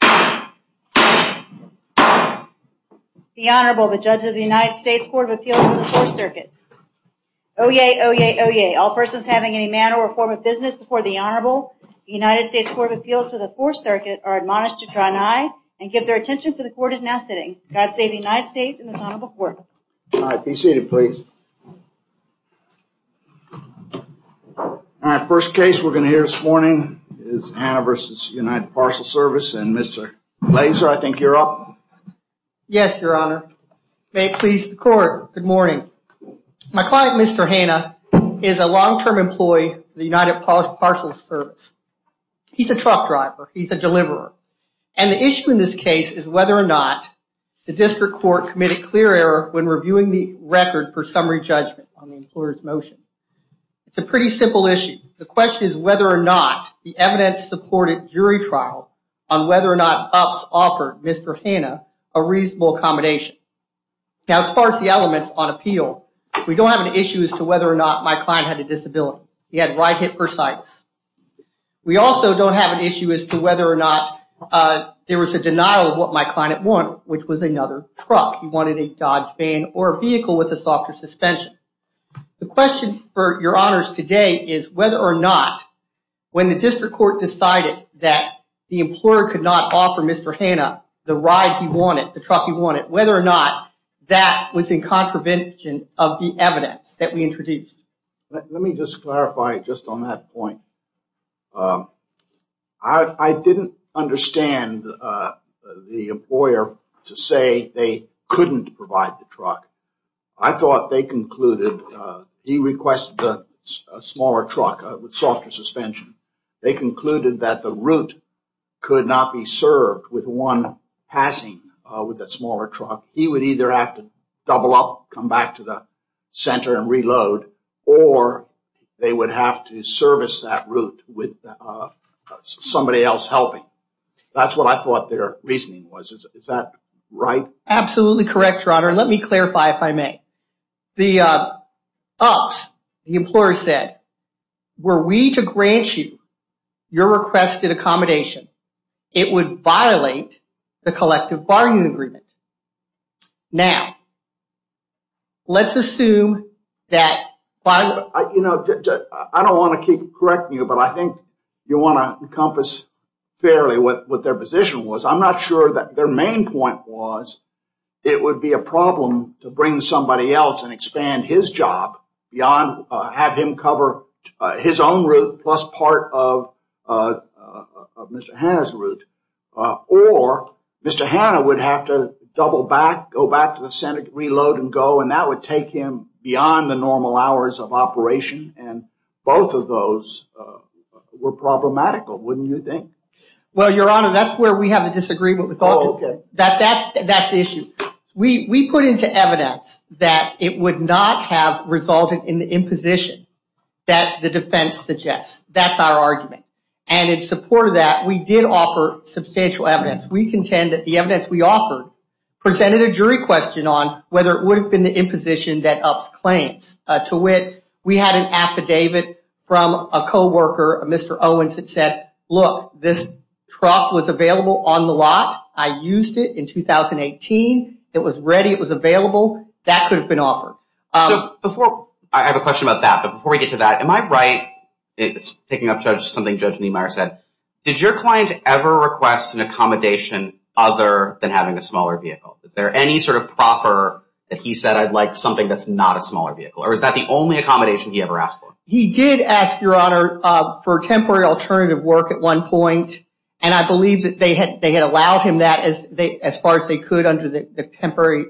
The Honorable, the Judge of the United States Court of Appeals for the 4th Circuit. Oyez! Oyez! Oyez! All persons having any manner or form of business before the Honorable, the United States Court of Appeals for the 4th Circuit, are admonished to draw nigh and give their attention for the Court is now sitting. God save the United States and this Honorable Court. All right, be seated please. All right, first case we're going to hear this morning is Hannah v. United Parcel Service and Mr. Laser, I think you're up. Yes, Your Honor. May it please the Court, good morning. My client, Mr. Hannah, is a long-term employee of the United Parcel Service. He's a truck driver, he's a deliverer. And the issue in this case is whether or not the It's a pretty simple issue. The question is whether or not the evidence supported jury trial on whether or not UPS offered Mr. Hannah a reasonable accommodation. Now as far as the elements on appeal, we don't have an issue as to whether or not my client had a disability. He had right hip bursitis. We also don't have an issue as to whether or not there was a denial of what my client wanted, which was another truck. He wanted a Dodge van or a vehicle with a softer suspension. The question for Your Honors today is whether or not when the district court decided that the employer could not offer Mr. Hannah the ride he wanted, the truck he wanted, whether or not that was in contravention of the evidence that we introduced. Let me just clarify just on that point. I didn't understand the employer to say they couldn't provide the truck. I thought they concluded he requested a smaller truck with softer suspension. They concluded that the route could not be served with one passing with a smaller truck. He would either have to double up, come back to the center and reload, or they would have to service that route with somebody else helping. That's what I thought their reasoning was. Is that right? Absolutely correct, Your Honor. Let me clarify if I may. The UPS, the employer said, were we to grant you your requested accommodation, it would violate the collective bargaining agreement. Now, let's assume that... I don't want to correct you, but I think you want to encompass fairly what their position was. I'm not sure that their main point was it would be a problem to bring somebody else and expand his job beyond have him cover his own route plus part of Mr. Hannah's route. Or Mr. Hannah would have to double back, go back to the center, reload and go, and that would take him beyond the normal hours of operation. Both of those were problematical, wouldn't you think? Well, Your Honor, that's where we have a disagreement. That's the issue. We put into evidence that it would not have resulted in the imposition that the defense suggests. That's our argument. And in support of that, we did offer substantial evidence. We contend that the evidence we offered presented a jury question on whether it would have been the imposition that UPS claims. To wit, we had an affidavit from a co-worker, Mr. Owens, that said, look, this truck was available on the lot. I used it in 2018. It was ready. It was available. That could have been offered. I have a question about that, but before we get to that, am I right? Picking up something Judge Niemeyer said, did your client ever request an accommodation other than having a smaller vehicle? Is there any sort of proffer that he said, I'd like something that's not a smaller vehicle, or is that the only accommodation he ever asked for? He did ask, Your Honor, for temporary alternative work at one point, and I believe that they had allowed him that as far as they could under the temporary,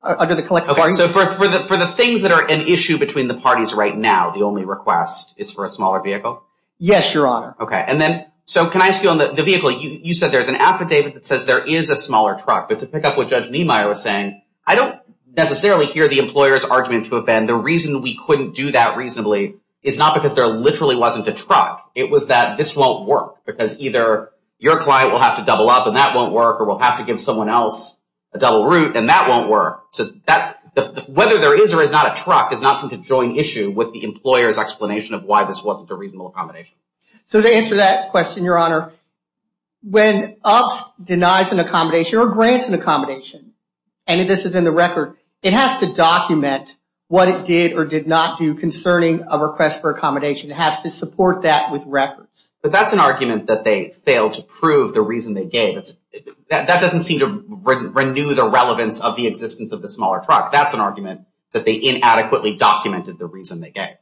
under the collective bargaining agreement. So for the things that are an issue between the parties right now, the only request is for a smaller vehicle? Yes, Your Honor. Okay, and then, so can I ask you on the vehicle, you said there's an affidavit that says there is a smaller truck, but to pick up what Judge Niemeyer was saying, I don't necessarily hear the employer's argument to offend. The reason we couldn't do that reasonably is not because there literally wasn't a truck. It was that this won't work because either your client will have to double up and that won't work or we'll have to give someone else a double route and that won't work. So whether there is or is not a truck is not some conjoined issue with the employer's explanation of why this wasn't a reasonable accommodation. So to answer that question, Your Honor, when OPS denies an accommodation or grants an accommodation, and this is in the record, it has to document what it did or did not do concerning a request for accommodation. It has to support that with records. But that's an argument that they failed to prove the reason they gave. That doesn't seem to renew the relevance of the existence of the smaller truck. That's an argument that they inadequately documented the reason they gave.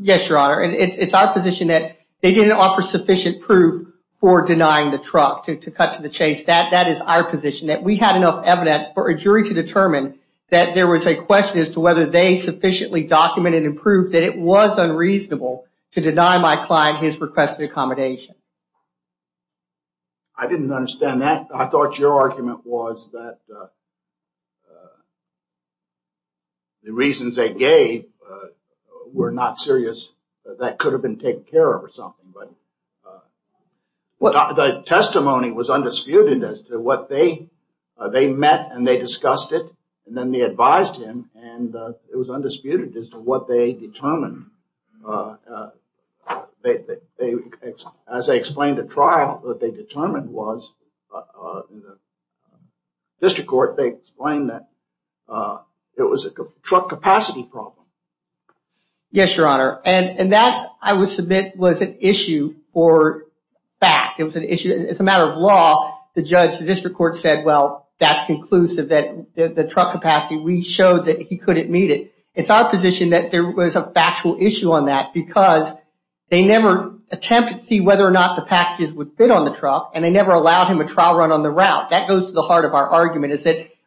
Yes, Your Honor. It's our position that they didn't offer sufficient proof for denying the truck to cut to the chase. That is our position, that we had enough evidence for a jury to determine that there was a question as to whether they sufficiently documented and proved that it was unreasonable to deny my client his requested accommodation. I didn't understand that. I thought your argument was that the reasons they gave were not serious. That could have been taken care of or something. But the testimony was undisputed as to what they met and they discussed it. And then they advised him and it was undisputed as to what they determined. As they explained at trial, what they determined was, in the district court, they explained that it was a truck capacity problem. Yes, Your Honor. And that, I would submit, was an issue for fact. It was an issue as a matter of law. The district court said, well, that's conclusive. The truck capacity, we showed that he couldn't meet it. It's our position that there was a factual issue on that because they never attempted to see whether or not the packages would fit on the truck and they never allowed him a trial run on the route. That goes to the heart of our argument.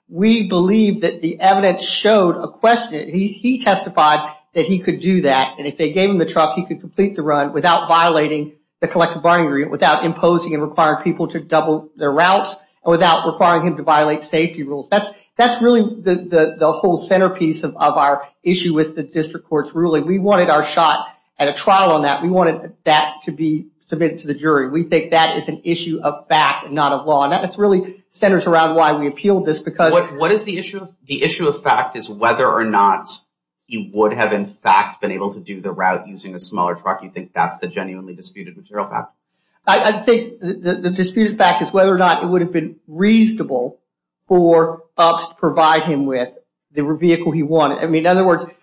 We believe that the evidence showed a question. He testified that he could do that and if they gave him the truck, he could complete the run without violating the collective bargaining agreement, without imposing and requiring people to double their routes, and without requiring him to violate safety rules. That's really the whole centerpiece of our issue with the district court's ruling. We wanted our shot at a trial on that. We wanted that to be submitted to the jury. We think that is an issue of fact and not of law. And that really centers around why we appealed this because— What is the issue? The issue of fact is whether or not he would have, in fact, been able to do the route using a smaller truck. You think that's the genuinely disputed material fact? I think the disputed fact is whether or not it would have been reasonable for UPS to provide him with the vehicle he wanted. I mean, in other words— Okay,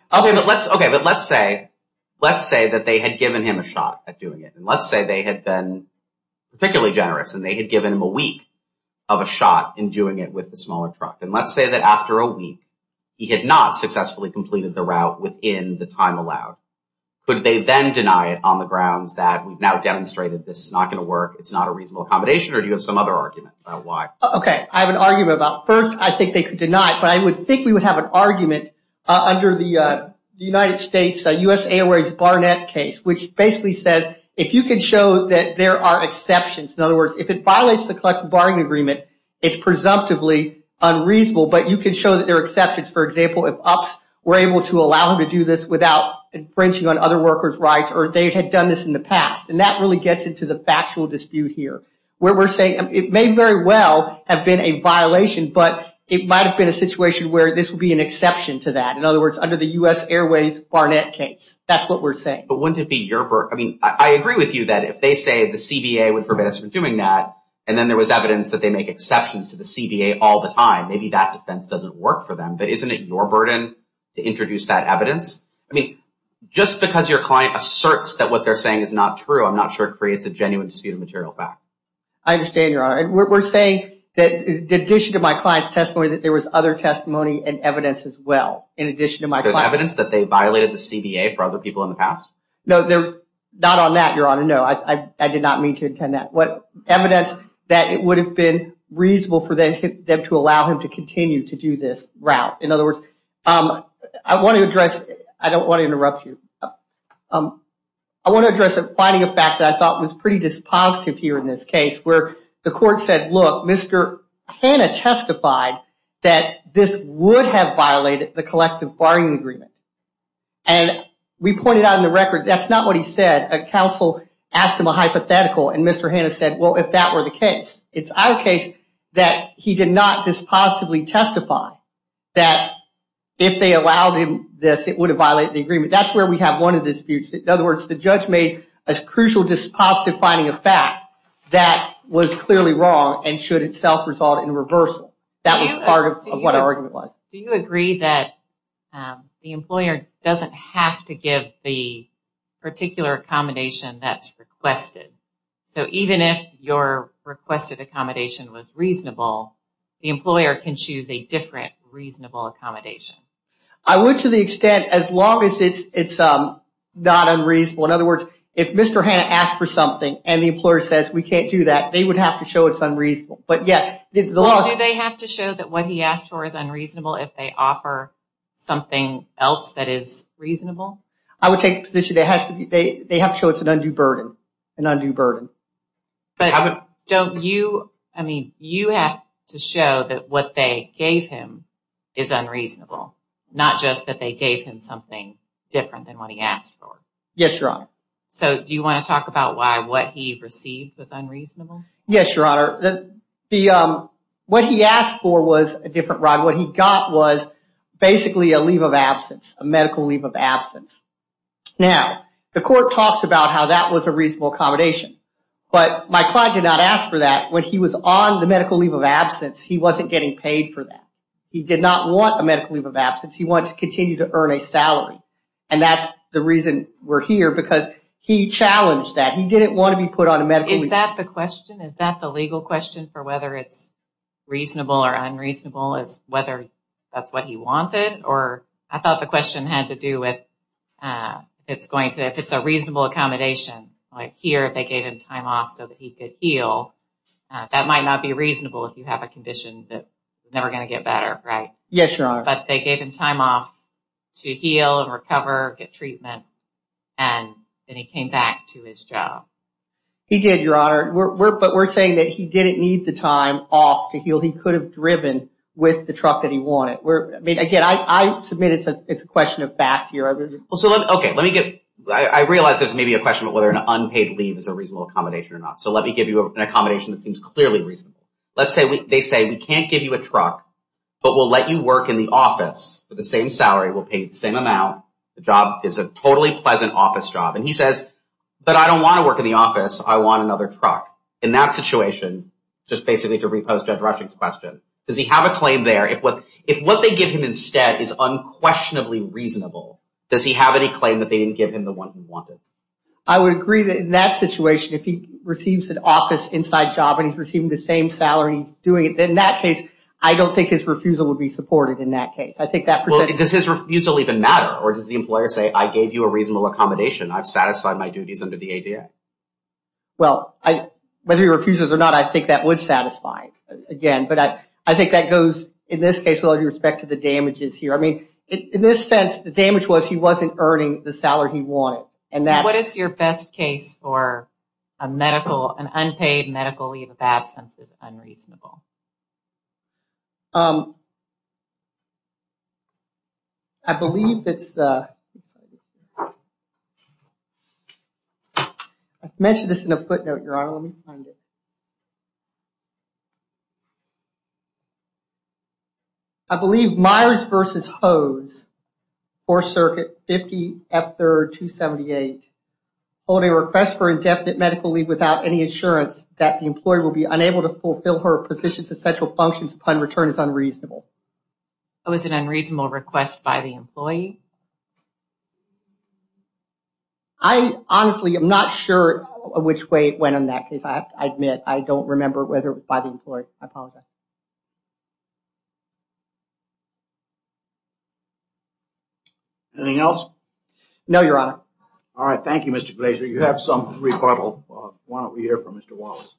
but let's say that they had given him a shot at doing it. And let's say they had been particularly generous and they had given him a week of a shot in doing it with the smaller truck. And let's say that after a week, he had not successfully completed the route within the time allowed. Could they then deny it on the grounds that we've now demonstrated this is not going to work, it's not a reasonable accommodation, or do you have some other argument about why? Okay, I have an argument about—first, I think they could deny it. But I would think we would have an argument under the United States, U.S. Airways Barnett case, which basically says, if you can show that there are exceptions. In other words, if it violates the collective bargaining agreement, For example, if UPS were able to allow him to do this without infringing on other workers' rights, or they had done this in the past. And that really gets into the factual dispute here, where we're saying it may very well have been a violation, but it might have been a situation where this would be an exception to that. In other words, under the U.S. Airways Barnett case, that's what we're saying. But wouldn't it be your—I mean, I agree with you that if they say, the CBA would forbid us from doing that, and then there was evidence that they make exceptions to the CBA all the time, maybe that defense doesn't work for them. But isn't it your burden to introduce that evidence? I mean, just because your client asserts that what they're saying is not true, I'm not sure it creates a genuine dispute of material fact. I understand, Your Honor. We're saying that in addition to my client's testimony, that there was other testimony and evidence as well, in addition to my client. There's evidence that they violated the CBA for other people in the past? No, there's—not on that, Your Honor. No, I did not mean to intend that. Evidence that it would have been reasonable for them to allow him to continue to do this route. In other words, I want to address—I don't want to interrupt you. I want to address a finding of fact that I thought was pretty dispositive here in this case, where the court said, look, Mr. Hanna testified that this would have violated the collective barring agreement. And we pointed out in the record, that's not what he said. A counsel asked him a hypothetical, and Mr. Hanna said, well, if that were the case. It's our case that he did not dispositively testify that if they allowed him this, it would have violated the agreement. That's where we have one of the disputes. In other words, the judge made a crucial dispositive finding of fact that was clearly wrong and should itself result in reversal. That was part of what our argument was. Do you agree that the employer doesn't have to give the particular accommodation that's requested? So even if your requested accommodation was reasonable, the employer can choose a different reasonable accommodation. I would to the extent, as long as it's not unreasonable. In other words, if Mr. Hanna asked for something and the employer says, we can't do that, they would have to show it's unreasonable. Do they have to show that what he asked for is unreasonable if they offer something else that is reasonable? I would take the position that they have to show it's an undue burden. But don't you, I mean, you have to show that what they gave him is unreasonable. Not just that they gave him something different than what he asked for. Yes, Your Honor. So do you want to talk about why what he received was unreasonable? Yes, Your Honor. What he asked for was a different ride. What he got was basically a leave of absence, a medical leave of absence. Now, the court talks about how that was a reasonable accommodation. But my client did not ask for that. When he was on the medical leave of absence, he wasn't getting paid for that. He did not want a medical leave of absence. He wanted to continue to earn a salary. And that's the reason we're here because he challenged that. He didn't want to be put on a medical leave of absence. Is that the question? Is that the legal question for whether it's reasonable or unreasonable, is whether that's what he wanted? Or I thought the question had to do with if it's a reasonable accommodation. Like here, they gave him time off so that he could heal. That might not be reasonable if you have a condition that is never going to get better, right? Yes, Your Honor. But they gave him time off to heal and recover, get treatment. And then he came back to his job. He did, Your Honor. But we're saying that he didn't need the time off to heal. He could have driven with the truck that he wanted. Again, I submit it's a question of fact here. Okay. I realize there's maybe a question of whether an unpaid leave is a reasonable accommodation or not. So let me give you an accommodation that seems clearly reasonable. Let's say they say we can't give you a truck, but we'll let you work in the office with the same salary. We'll pay the same amount. The job is a totally pleasant office job. And he says, but I don't want to work in the office. I want another truck. In that situation, just basically to repose Judge Rushing's question, does he have a claim there? If what they give him instead is unquestionably reasonable, does he have any claim that they didn't give him the one he wanted? I would agree that in that situation, if he receives an office inside job and he's receiving the same salary and he's doing it, then in that case, I don't think his refusal would be supported in that case. I think that presents— Well, does his refusal even matter? Or does the employer say, I gave you a reasonable accommodation. I've satisfied my duties under the ADA. Well, whether he refuses or not, I think that would satisfy it, again. But I think that goes, in this case, with all due respect to the damages here. I mean, in this sense, the damage was he wasn't earning the salary he wanted. What is your best case for an unpaid medical leave of absence is unreasonable? I believe that's the—I mentioned this in a footnote, Your Honor. Let me find it. I believe Myers v. Hose, Fourth Circuit, 50 F. 3rd, 278, hold a request for indefinite medical leave without any insurance that the employee will be unable to fulfill her positions and essential functions upon return is unreasonable. Was it an unreasonable request by the employee? I honestly am not sure which way it went in that case. I admit, I don't remember whether it was by the employee. I apologize. Anything else? No, Your Honor. All right. Thank you, Mr. Glaser. You have some rebuttal. Why don't we hear from Mr. Wallace?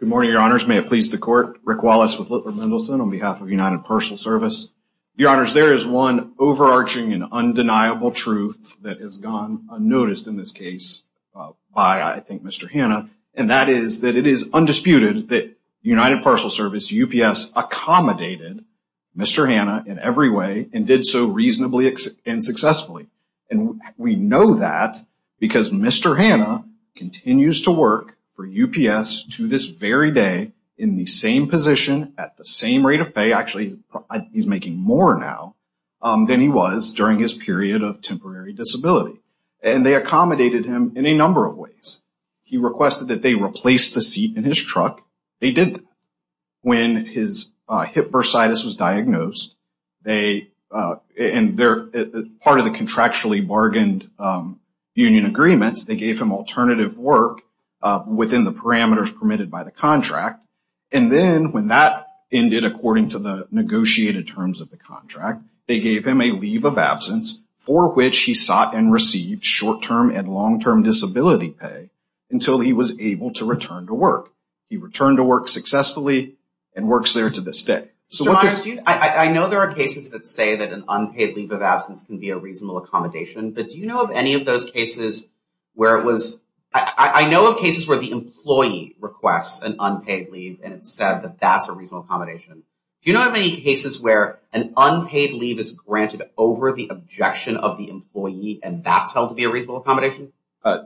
Good morning, Your Honors. May it please the Court. Rick Wallace with Littler Mendelson on behalf of United Parcel Service. Your Honors, there is one overarching and undeniable truth that has gone unnoticed in this case by, I think, Mr. Hanna, and that is that it is undisputed that United Parcel Service, UPS, accommodated Mr. Hanna in every way and did so reasonably and successfully. And we know that because Mr. Hanna continues to work for UPS to this very day in the same position at the same rate of pay. Actually, he's making more now than he was during his period of temporary disability. And they accommodated him in a number of ways. He requested that they replace the seat in his truck. They did that. When his hip bursitis was diagnosed, part of the contractually bargained union agreements, they gave him alternative work within the parameters permitted by the contract. And then when that ended according to the negotiated terms of the contract, they gave him a leave of absence for which he sought and received short-term and long-term disability pay until he was able to return to work. He returned to work successfully and works there to this day. Mr. Myers, I know there are cases that say that an unpaid leave of absence can be a reasonable accommodation, but do you know of any of those cases where it was – I know of cases where the employee requests an unpaid leave and it's said that that's a reasonable accommodation. Do you know of any cases where an unpaid leave is granted over the objection of the employee and that's held to be a reasonable accommodation?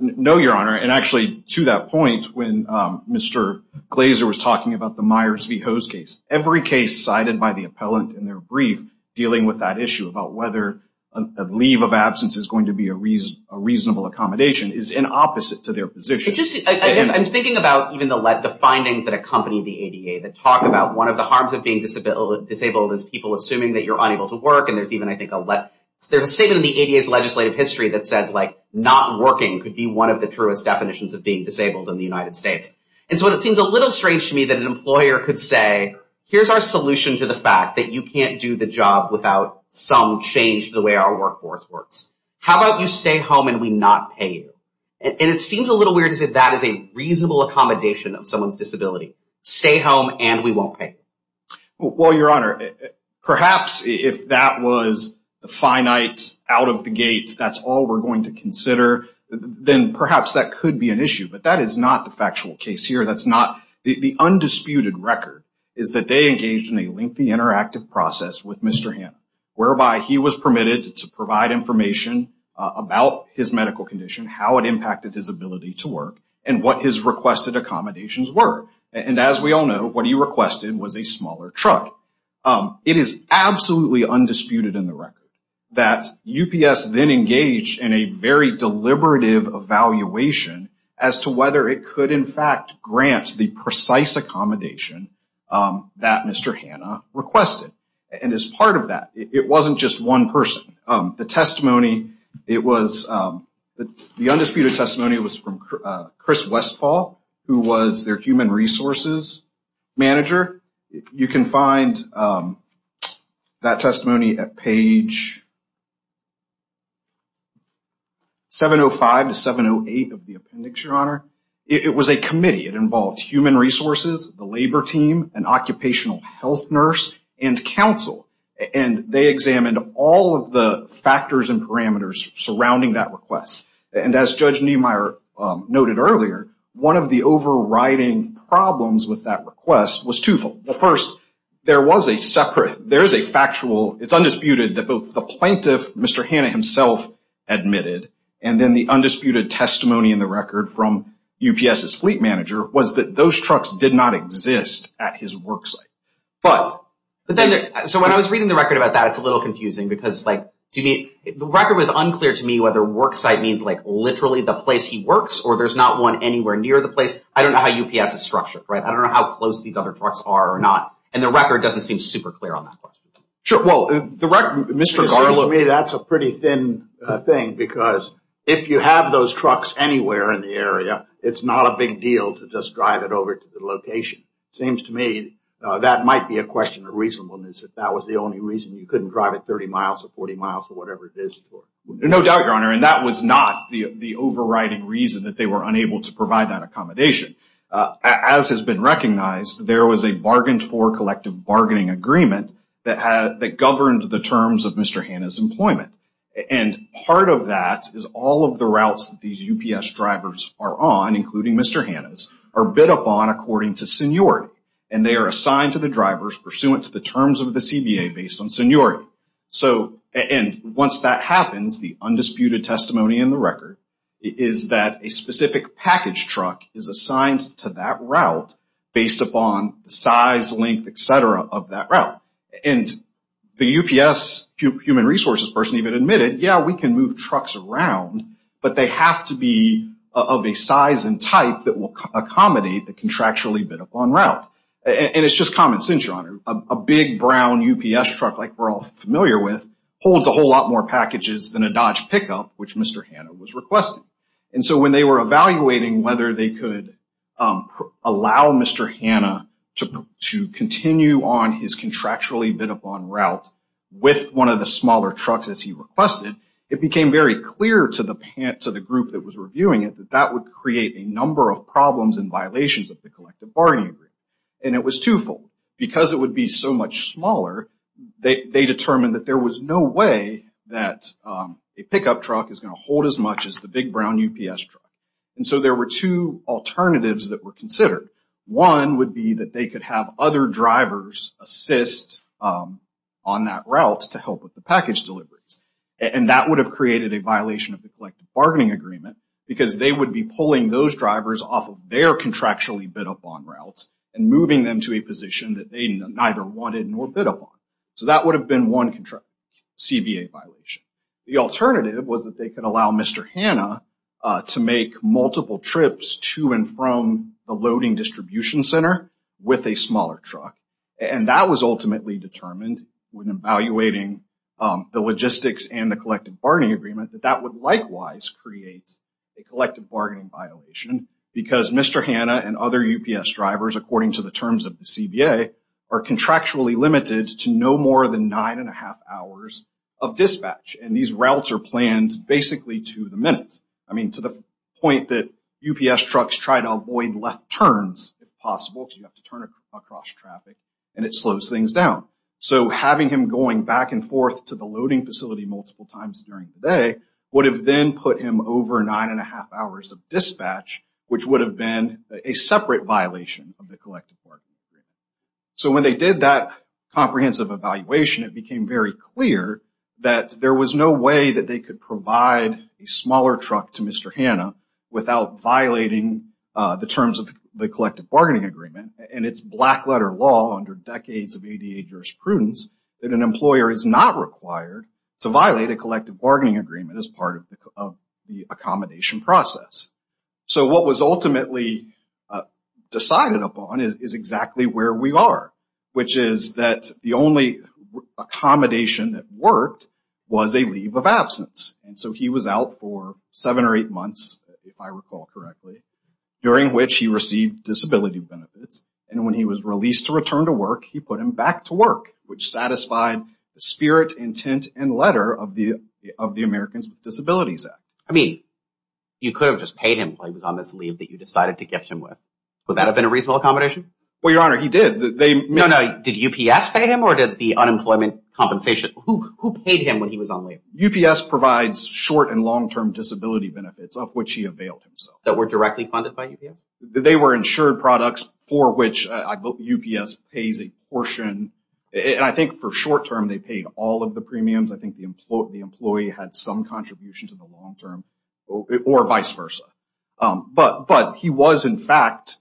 No, Your Honor. And actually, to that point, when Mr. Glazer was talking about the Myers v. Ho's case, every case cited by the appellant in their brief dealing with that issue about whether a leave of absence is going to be a reasonable accommodation is in opposite to their position. I'm thinking about even the findings that accompany the ADA that talk about one of the harms of being disabled is people assuming that you're unable to work. There's a statement in the ADA's legislative history that says, like, not working could be one of the truest definitions of being disabled in the United States. And so it seems a little strange to me that an employer could say, here's our solution to the fact that you can't do the job without some change to the way our workforce works. How about you stay home and we not pay you? And it seems a little weird to say that is a reasonable accommodation of someone's disability. Stay home and we won't pay you. Well, Your Honor, perhaps if that was the finite out of the gate, that's all we're going to consider, then perhaps that could be an issue. But that is not the factual case here. The undisputed record is that they engaged in a lengthy interactive process with Mr. Hanna, whereby he was permitted to provide information about his medical condition, how it impacted his ability to work, and what his requested accommodations were. And as we all know, what he requested was a smaller truck. It is absolutely undisputed in the record that UPS then engaged in a very deliberative evaluation as to whether it could in fact grant the precise accommodation that Mr. Hanna requested. And as part of that, it wasn't just one person. The testimony, it was, the undisputed testimony was from Chris Westfall, who was their human resources manager. You can find that testimony at page 705 to 708 of the appendix, Your Honor. It was a committee. It involved human resources, the labor team, an occupational health nurse, and counsel. And they examined all of the factors and parameters surrounding that request. And as Judge Niemeyer noted earlier, one of the overriding problems with that request was twofold. The first, there was a separate, there is a factual, it's undisputed, that both the plaintiff, Mr. Hanna himself admitted, and then the undisputed testimony in the record from UPS's fleet manager was that those trucks did not exist at his worksite. But then, so when I was reading the record about that, it's a little confusing because like, the record was unclear to me whether worksite means like literally the place he works, or there's not one anywhere near the place. I don't know how UPS is structured, right? I don't know how close these other trucks are or not. And the record doesn't seem super clear on that question. Sure, well, the record, Mr. Garland. To me, that's a pretty thin thing because if you have those trucks anywhere in the area, it's not a big deal to just drive it over to the location. It seems to me that might be a question of reasonableness, if that was the only reason you couldn't drive it 30 miles or 40 miles or whatever it is. No doubt, Your Honor. And that was not the overriding reason that they were unable to provide that accommodation. As has been recognized, there was a bargained for collective bargaining agreement that governed the terms of Mr. Hanna's employment. And part of that is all of the routes that these UPS drivers are on, including Mr. Hanna's, are bid upon according to seniority. And they are assigned to the drivers pursuant to the terms of the CBA based on seniority. And once that happens, the undisputed testimony in the record is that a specific package truck is assigned to that route based upon the size, length, et cetera, of that route. And the UPS human resources person even admitted, yeah, we can move trucks around, but they have to be of a size and type that will accommodate the contractually bid upon route. And it's just common sense, Your Honor. A big brown UPS truck like we're all familiar with holds a whole lot more packages than a Dodge pickup, which Mr. Hanna was requesting. And so when they were evaluating whether they could allow Mr. Hanna to continue on his contractually bid upon route with one of the smaller trucks as he requested, it became very clear to the group that was reviewing it that that would create a number of problems and violations of the collective bargaining agreement. And it was twofold. Because it would be so much smaller, they determined that there was no way that a pickup truck is going to hold as much as the big brown UPS truck. And so there were two alternatives that were considered. One would be that they could have other drivers assist on that route to help with the package deliveries. And that would have created a violation of the collective bargaining agreement because they would be pulling those drivers off of their contractually bid upon routes and moving them to a position that they neither wanted nor bid upon. So that would have been one CBA violation. The alternative was that they could allow Mr. Hanna to make multiple trips to and from the loading distribution center with a smaller truck. And that was ultimately determined when evaluating the logistics and the collective bargaining agreement that that would likewise create a collective bargaining violation because Mr. Hanna and other UPS drivers, according to the terms of the CBA, are contractually limited to no more than nine and a half hours of dispatch. And these routes are planned basically to the minute. I mean, to the point that UPS trucks try to avoid left turns if possible because you have to turn across traffic and it slows things down. So having him going back and forth to the loading facility multiple times during the day would have then put him over nine and a half hours of dispatch, which would have been a separate violation of the collective bargaining agreement. So when they did that comprehensive evaluation, it became very clear that there was no way that they could provide a smaller truck to Mr. Hanna without violating the terms of the collective bargaining agreement. And it's black letter law under decades of ADA jurisprudence that an employer is not required to violate a collective bargaining agreement as part of the accommodation process. So what was ultimately decided upon is exactly where we are, which is that the only accommodation that worked was a leave of absence. And so he was out for seven or eight months, if I recall correctly, during which he received disability benefits. And when he was released to return to work, he put him back to work, which satisfied the spirit, intent, and letter of the Americans with Disabilities Act. I mean, you could have just paid him when he was on this leave that you decided to gift him with. Would that have been a reasonable accommodation? Well, Your Honor, he did. No, no. Did UPS pay him or did the unemployment compensation? Who paid him when he was on leave? UPS provides short- and long-term disability benefits of which he availed himself. That were directly funded by UPS? They were insured products for which UPS pays a portion. And I think for short-term, they paid all of the premiums. I think the employee had some contribution to the long-term or vice versa. But he was, in fact,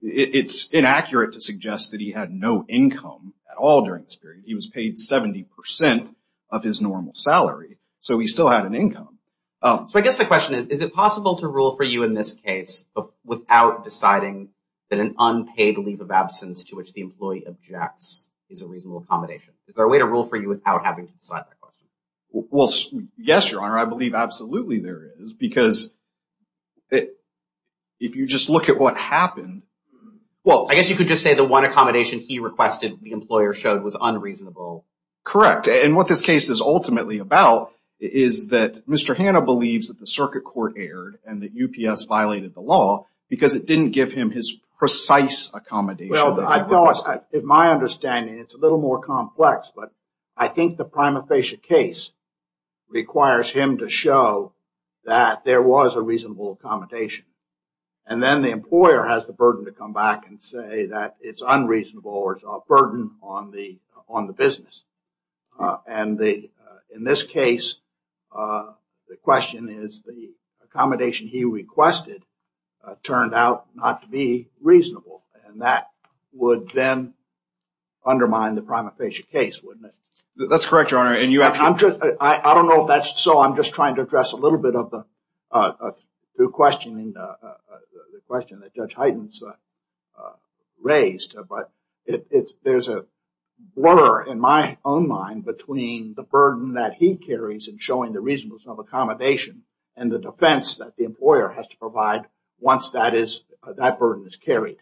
it's inaccurate to suggest that he had no income at all during this period. He was paid 70% of his normal salary, so he still had an income. So I guess the question is, is it possible to rule for you in this case without deciding that an unpaid leave of absence to which the employee objects is a reasonable accommodation? Is there a way to rule for you without having to decide that question? Well, yes, Your Honor. I believe absolutely there is. Because if you just look at what happened— Well, I guess you could just say the one accommodation he requested the employer showed was unreasonable. Correct. And what this case is ultimately about is that Mr. Hanna believes that the circuit court erred and that UPS violated the law because it didn't give him his precise accommodation. Well, I don't. In my understanding, it's a little more complex. But I think the prima facie case requires him to show that there was a reasonable accommodation. And then the employer has the burden to come back and say that it's unreasonable or a burden on the business. And in this case, the question is the accommodation he requested turned out not to be reasonable. And that would then undermine the prima facie case, wouldn't it? That's correct, Your Honor. I don't know if that's so. I'm just trying to address a little bit of the question that Judge Heiden's raised. But there's a blur in my own mind between the burden that he carries in showing the reasonable accommodation and the defense that the employer has to provide once that burden is carried.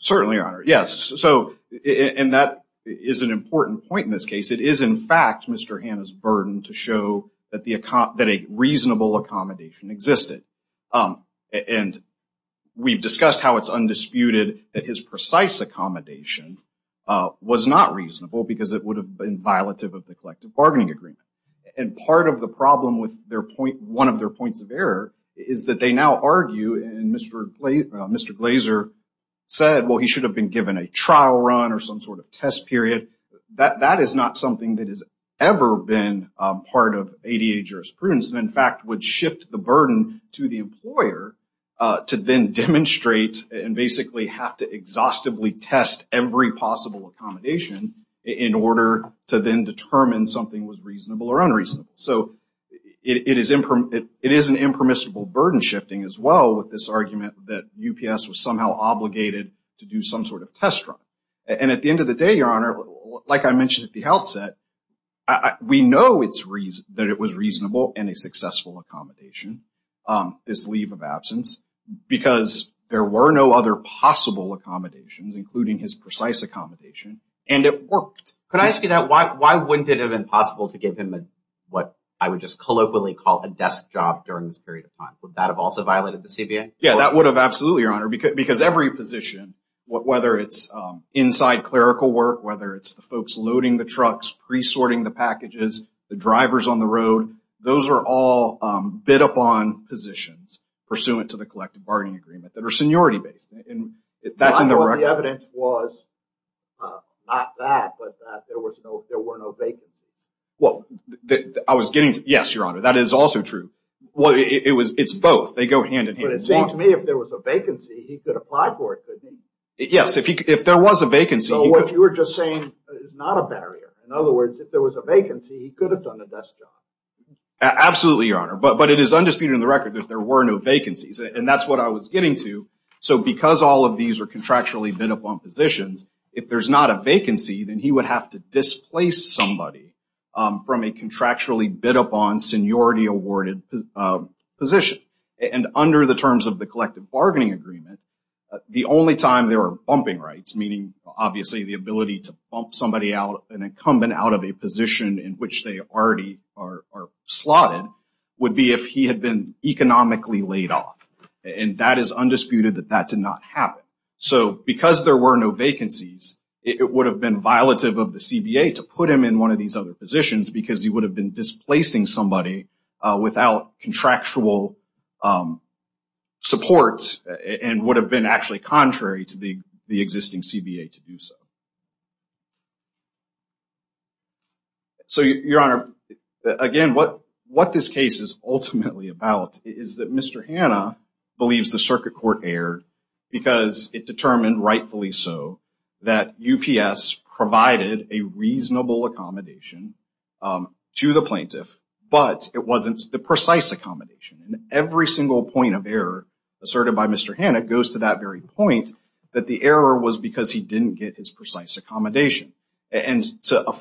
Certainly, Your Honor. Yes. And that is an important point in this case. It is, in fact, Mr. Hanna's burden to show that a reasonable accommodation existed. And we've discussed how it's undisputed that his precise accommodation was not reasonable because it would have been violative of the collective bargaining agreement. And part of the problem with one of their points of error is that they now argue, and Mr. Glazer said, well, he should have been given a trial run or some sort of test period. That is not something that has ever been part of ADA jurisprudence and, in fact, would shift the burden to the employer to then demonstrate and basically have to exhaustively test every possible accommodation in order to then determine something was reasonable or unreasonable. So it is an impermissible burden shifting as well with this argument that UPS was somehow obligated to do some sort of test run. And at the end of the day, Your Honor, like I mentioned at the outset, we know that it was reasonable and a successful accommodation, this leave of absence, because there were no other possible accommodations, including his precise accommodation. And it worked. Could I ask you that? Why wouldn't it have been possible to give him what I would just colloquially call a desk job during this period of time? Would that have also violated the CBA? Yeah, that would have. Absolutely, Your Honor, because every position, whether it's inside clerical work, whether it's the folks loading the trucks, pre-sorting the packages, the drivers on the road, those are all bid upon positions pursuant to the collective bargaining agreement that are seniority based. And that's in the record. The evidence was not that, but that there were no vacancies. Well, I was getting to. Yes, Your Honor, that is also true. It's both. They go hand in hand. But it seems to me if there was a vacancy, he could apply for it, couldn't he? Yes, if there was a vacancy. So what you were just saying is not a barrier. In other words, if there was a vacancy, he could have done a desk job. Absolutely, Your Honor. But it is undisputed in the record that there were no vacancies. And that's what I was getting to. So because all of these are contractually bid upon positions, if there's not a vacancy, then he would have to displace somebody from a contractually bid upon seniority awarded position. And under the terms of the collective bargaining agreement, the only time there are bumping rights, meaning obviously the ability to bump somebody out, an incumbent out of a position in which they already are slotted, would be if he had been economically laid off. And that is undisputed that that did not happen. So because there were no vacancies, it would have been violative of the CBA to put him in one of these other positions because he would have been displacing somebody without contractual support and would have been actually contrary to the existing CBA to do so. So, Your Honor, again, what what this case is ultimately about is that Mr. Hanna believes the circuit court erred because it determined rightfully so that UPS provided a reasonable accommodation to the plaintiff. But it wasn't the precise accommodation. And every single point of error asserted by Mr. Hanna goes to that very point that the error was because he didn't get his precise accommodation. And to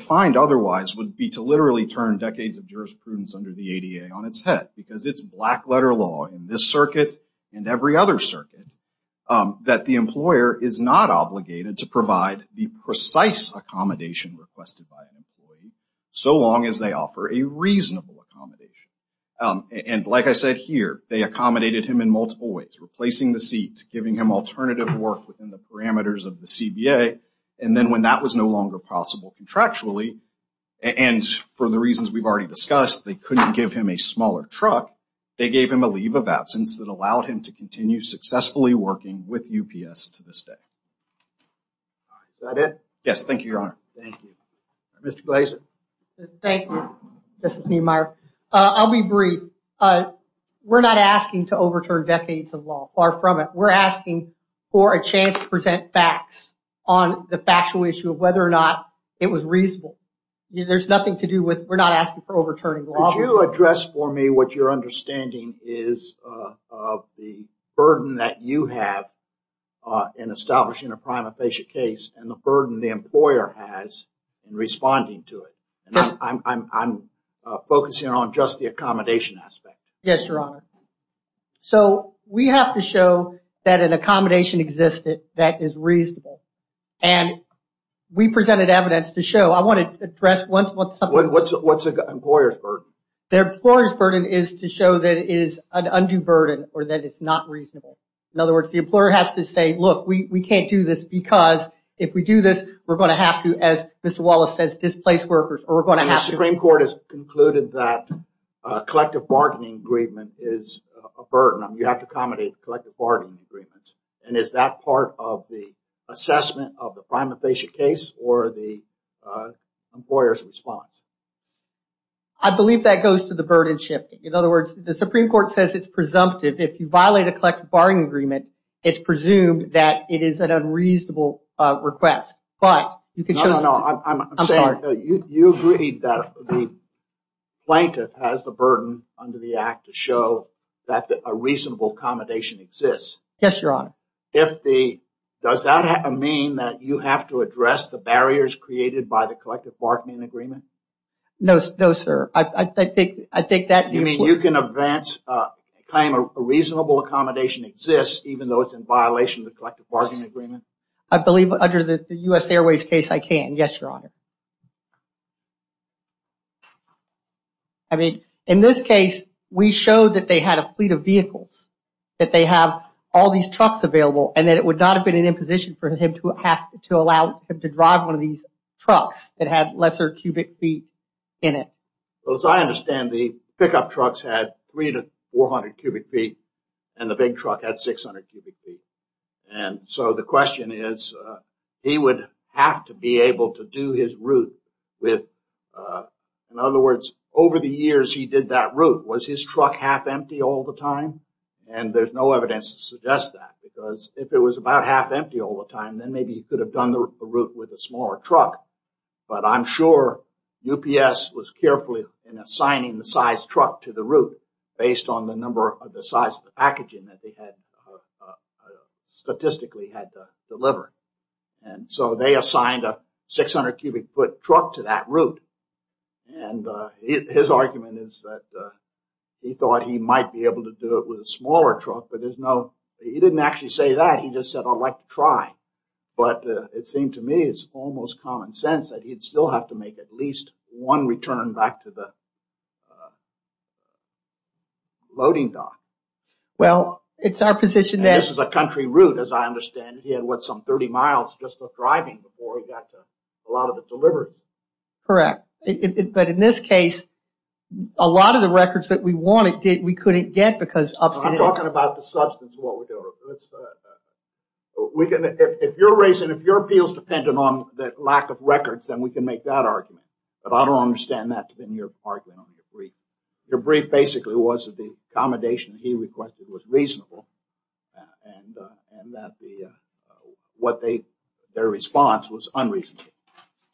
find otherwise would be to literally turn decades of jurisprudence under the ADA on its head, because it's black letter law in this circuit and every other circuit that the employer is not obligated to provide the precise accommodation requested by an employee so long as they offer a reasonable accommodation. And like I said here, they accommodated him in multiple ways, replacing the seats, giving him alternative work within the parameters of the CBA. And then when that was no longer possible contractually and for the reasons we've already discussed, they couldn't give him a smaller truck. They gave him a leave of absence that allowed him to continue successfully working with UPS to this day. Is that it? Yes. Thank you, Your Honor. Thank you. Mr. Glazer. Thank you. This is Neal Meyer. I'll be brief. We're not asking to overturn decades of law. Far from it. We're asking for a chance to present facts on the factual issue of whether or not it was reasonable. There's nothing to do with we're not asking for overturning law. Could you address for me what your understanding is of the burden that you have in establishing a prima facie case and the burden the employer has in responding to it? I'm focusing on just the accommodation aspect. Yes, Your Honor. So we have to show that an accommodation existed that is reasonable. And we presented evidence to show I want to address once. What's the employer's burden? Their employer's burden is to show that it is an undue burden or that it's not reasonable. In other words, the employer has to say, look, we can't do this because if we do this, we're going to have to, as Mr. Wallace says, displace workers or we're going to have to. The Supreme Court has concluded that collective bargaining agreement is a burden. You have to accommodate collective bargaining agreements. And is that part of the assessment of the prima facie case or the employer's response? I believe that goes to the burdenship. In other words, the Supreme Court says it's presumptive. If you violate a collective bargaining agreement, it's presumed that it is an unreasonable request. But you can show. I'm sorry. You agreed that the plaintiff has the burden under the act to show that a reasonable accommodation exists. Yes, Your Honor. Does that mean that you have to address the barriers created by the collective bargaining agreement? No, sir. You mean you can claim a reasonable accommodation exists even though it's in violation of the collective bargaining agreement? I believe under the U.S. Airways case, I can. Yes, Your Honor. I mean, in this case, we showed that they had a fleet of vehicles, that they have all these trucks available and that it would not have been an imposition for him to have to allow him to drive one of these trucks that had lesser cubic feet in it. Well, as I understand, the pickup trucks had three to 400 cubic feet and the big truck had 600 cubic feet. And so the question is, he would have to be able to do his route with. In other words, over the years, he did that route. Was his truck half empty all the time? And there's no evidence to suggest that because if it was about half empty all the time, then maybe he could have done the route with a smaller truck. But I'm sure UPS was carefully assigning the size truck to the route based on the number of the size of the packaging that they had statistically had to deliver. And so they assigned a 600 cubic foot truck to that route. And his argument is that he thought he might be able to do it with a smaller truck. But there's no, he didn't actually say that. But it seemed to me it's almost common sense that he'd still have to make at least one return back to the loading dock. Well, it's our position that. This is a country route, as I understand it. He had, what, some 30 miles just of driving before he got a lot of it delivered. Correct. But in this case, a lot of the records that we wanted, we couldn't get because. I'm talking about the substance of what we do. We can, if you're raising, if your appeals dependent on the lack of records, then we can make that argument. But I don't understand that in your argument on your brief. Your brief basically was that the accommodation he requested was reasonable and that the, what they, their response was unreasonable.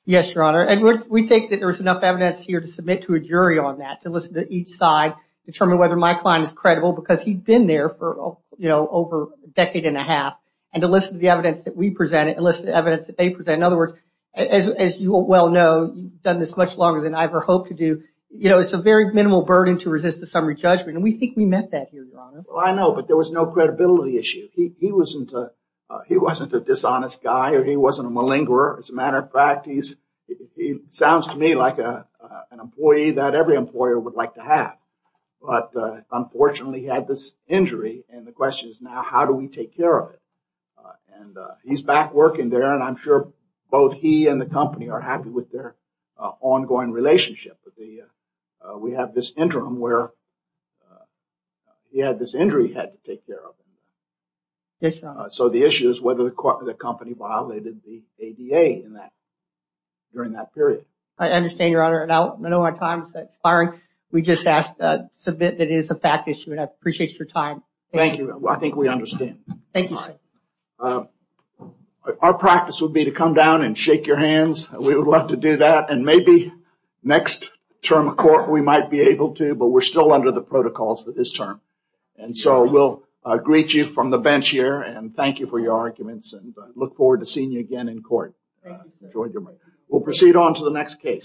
Yes, Your Honor. And we think that there's enough evidence here to submit to a jury on that, to listen to each side, determine whether my client is credible because he'd been there for over a decade and a half, and to listen to the evidence that we presented and listen to the evidence that they presented. In other words, as you well know, you've done this much longer than I ever hoped to do. It's a very minimal burden to resist a summary judgment, and we think we met that here, Your Honor. Well, I know, but there was no credibility issue. He wasn't a dishonest guy or he wasn't a malingerer. As a matter of fact, he sounds to me like an employee that every employer would like to have. But unfortunately, he had this injury. And the question is now, how do we take care of it? And he's back working there, and I'm sure both he and the company are happy with their ongoing relationship. We have this interim where he had this injury he had to take care of. Yes, Your Honor. So the issue is whether the company violated the ADA during that period. I understand, Your Honor, and I know our time is expiring. We just asked to submit that it is a fact issue, and I appreciate your time. Thank you. I think we understand. Thank you, sir. Our practice would be to come down and shake your hands. We would love to do that, and maybe next term of court we might be able to, but we're still under the protocols for this term. And so we'll greet you from the bench here and thank you for your arguments and look forward to seeing you again in court. We'll proceed on to the next case.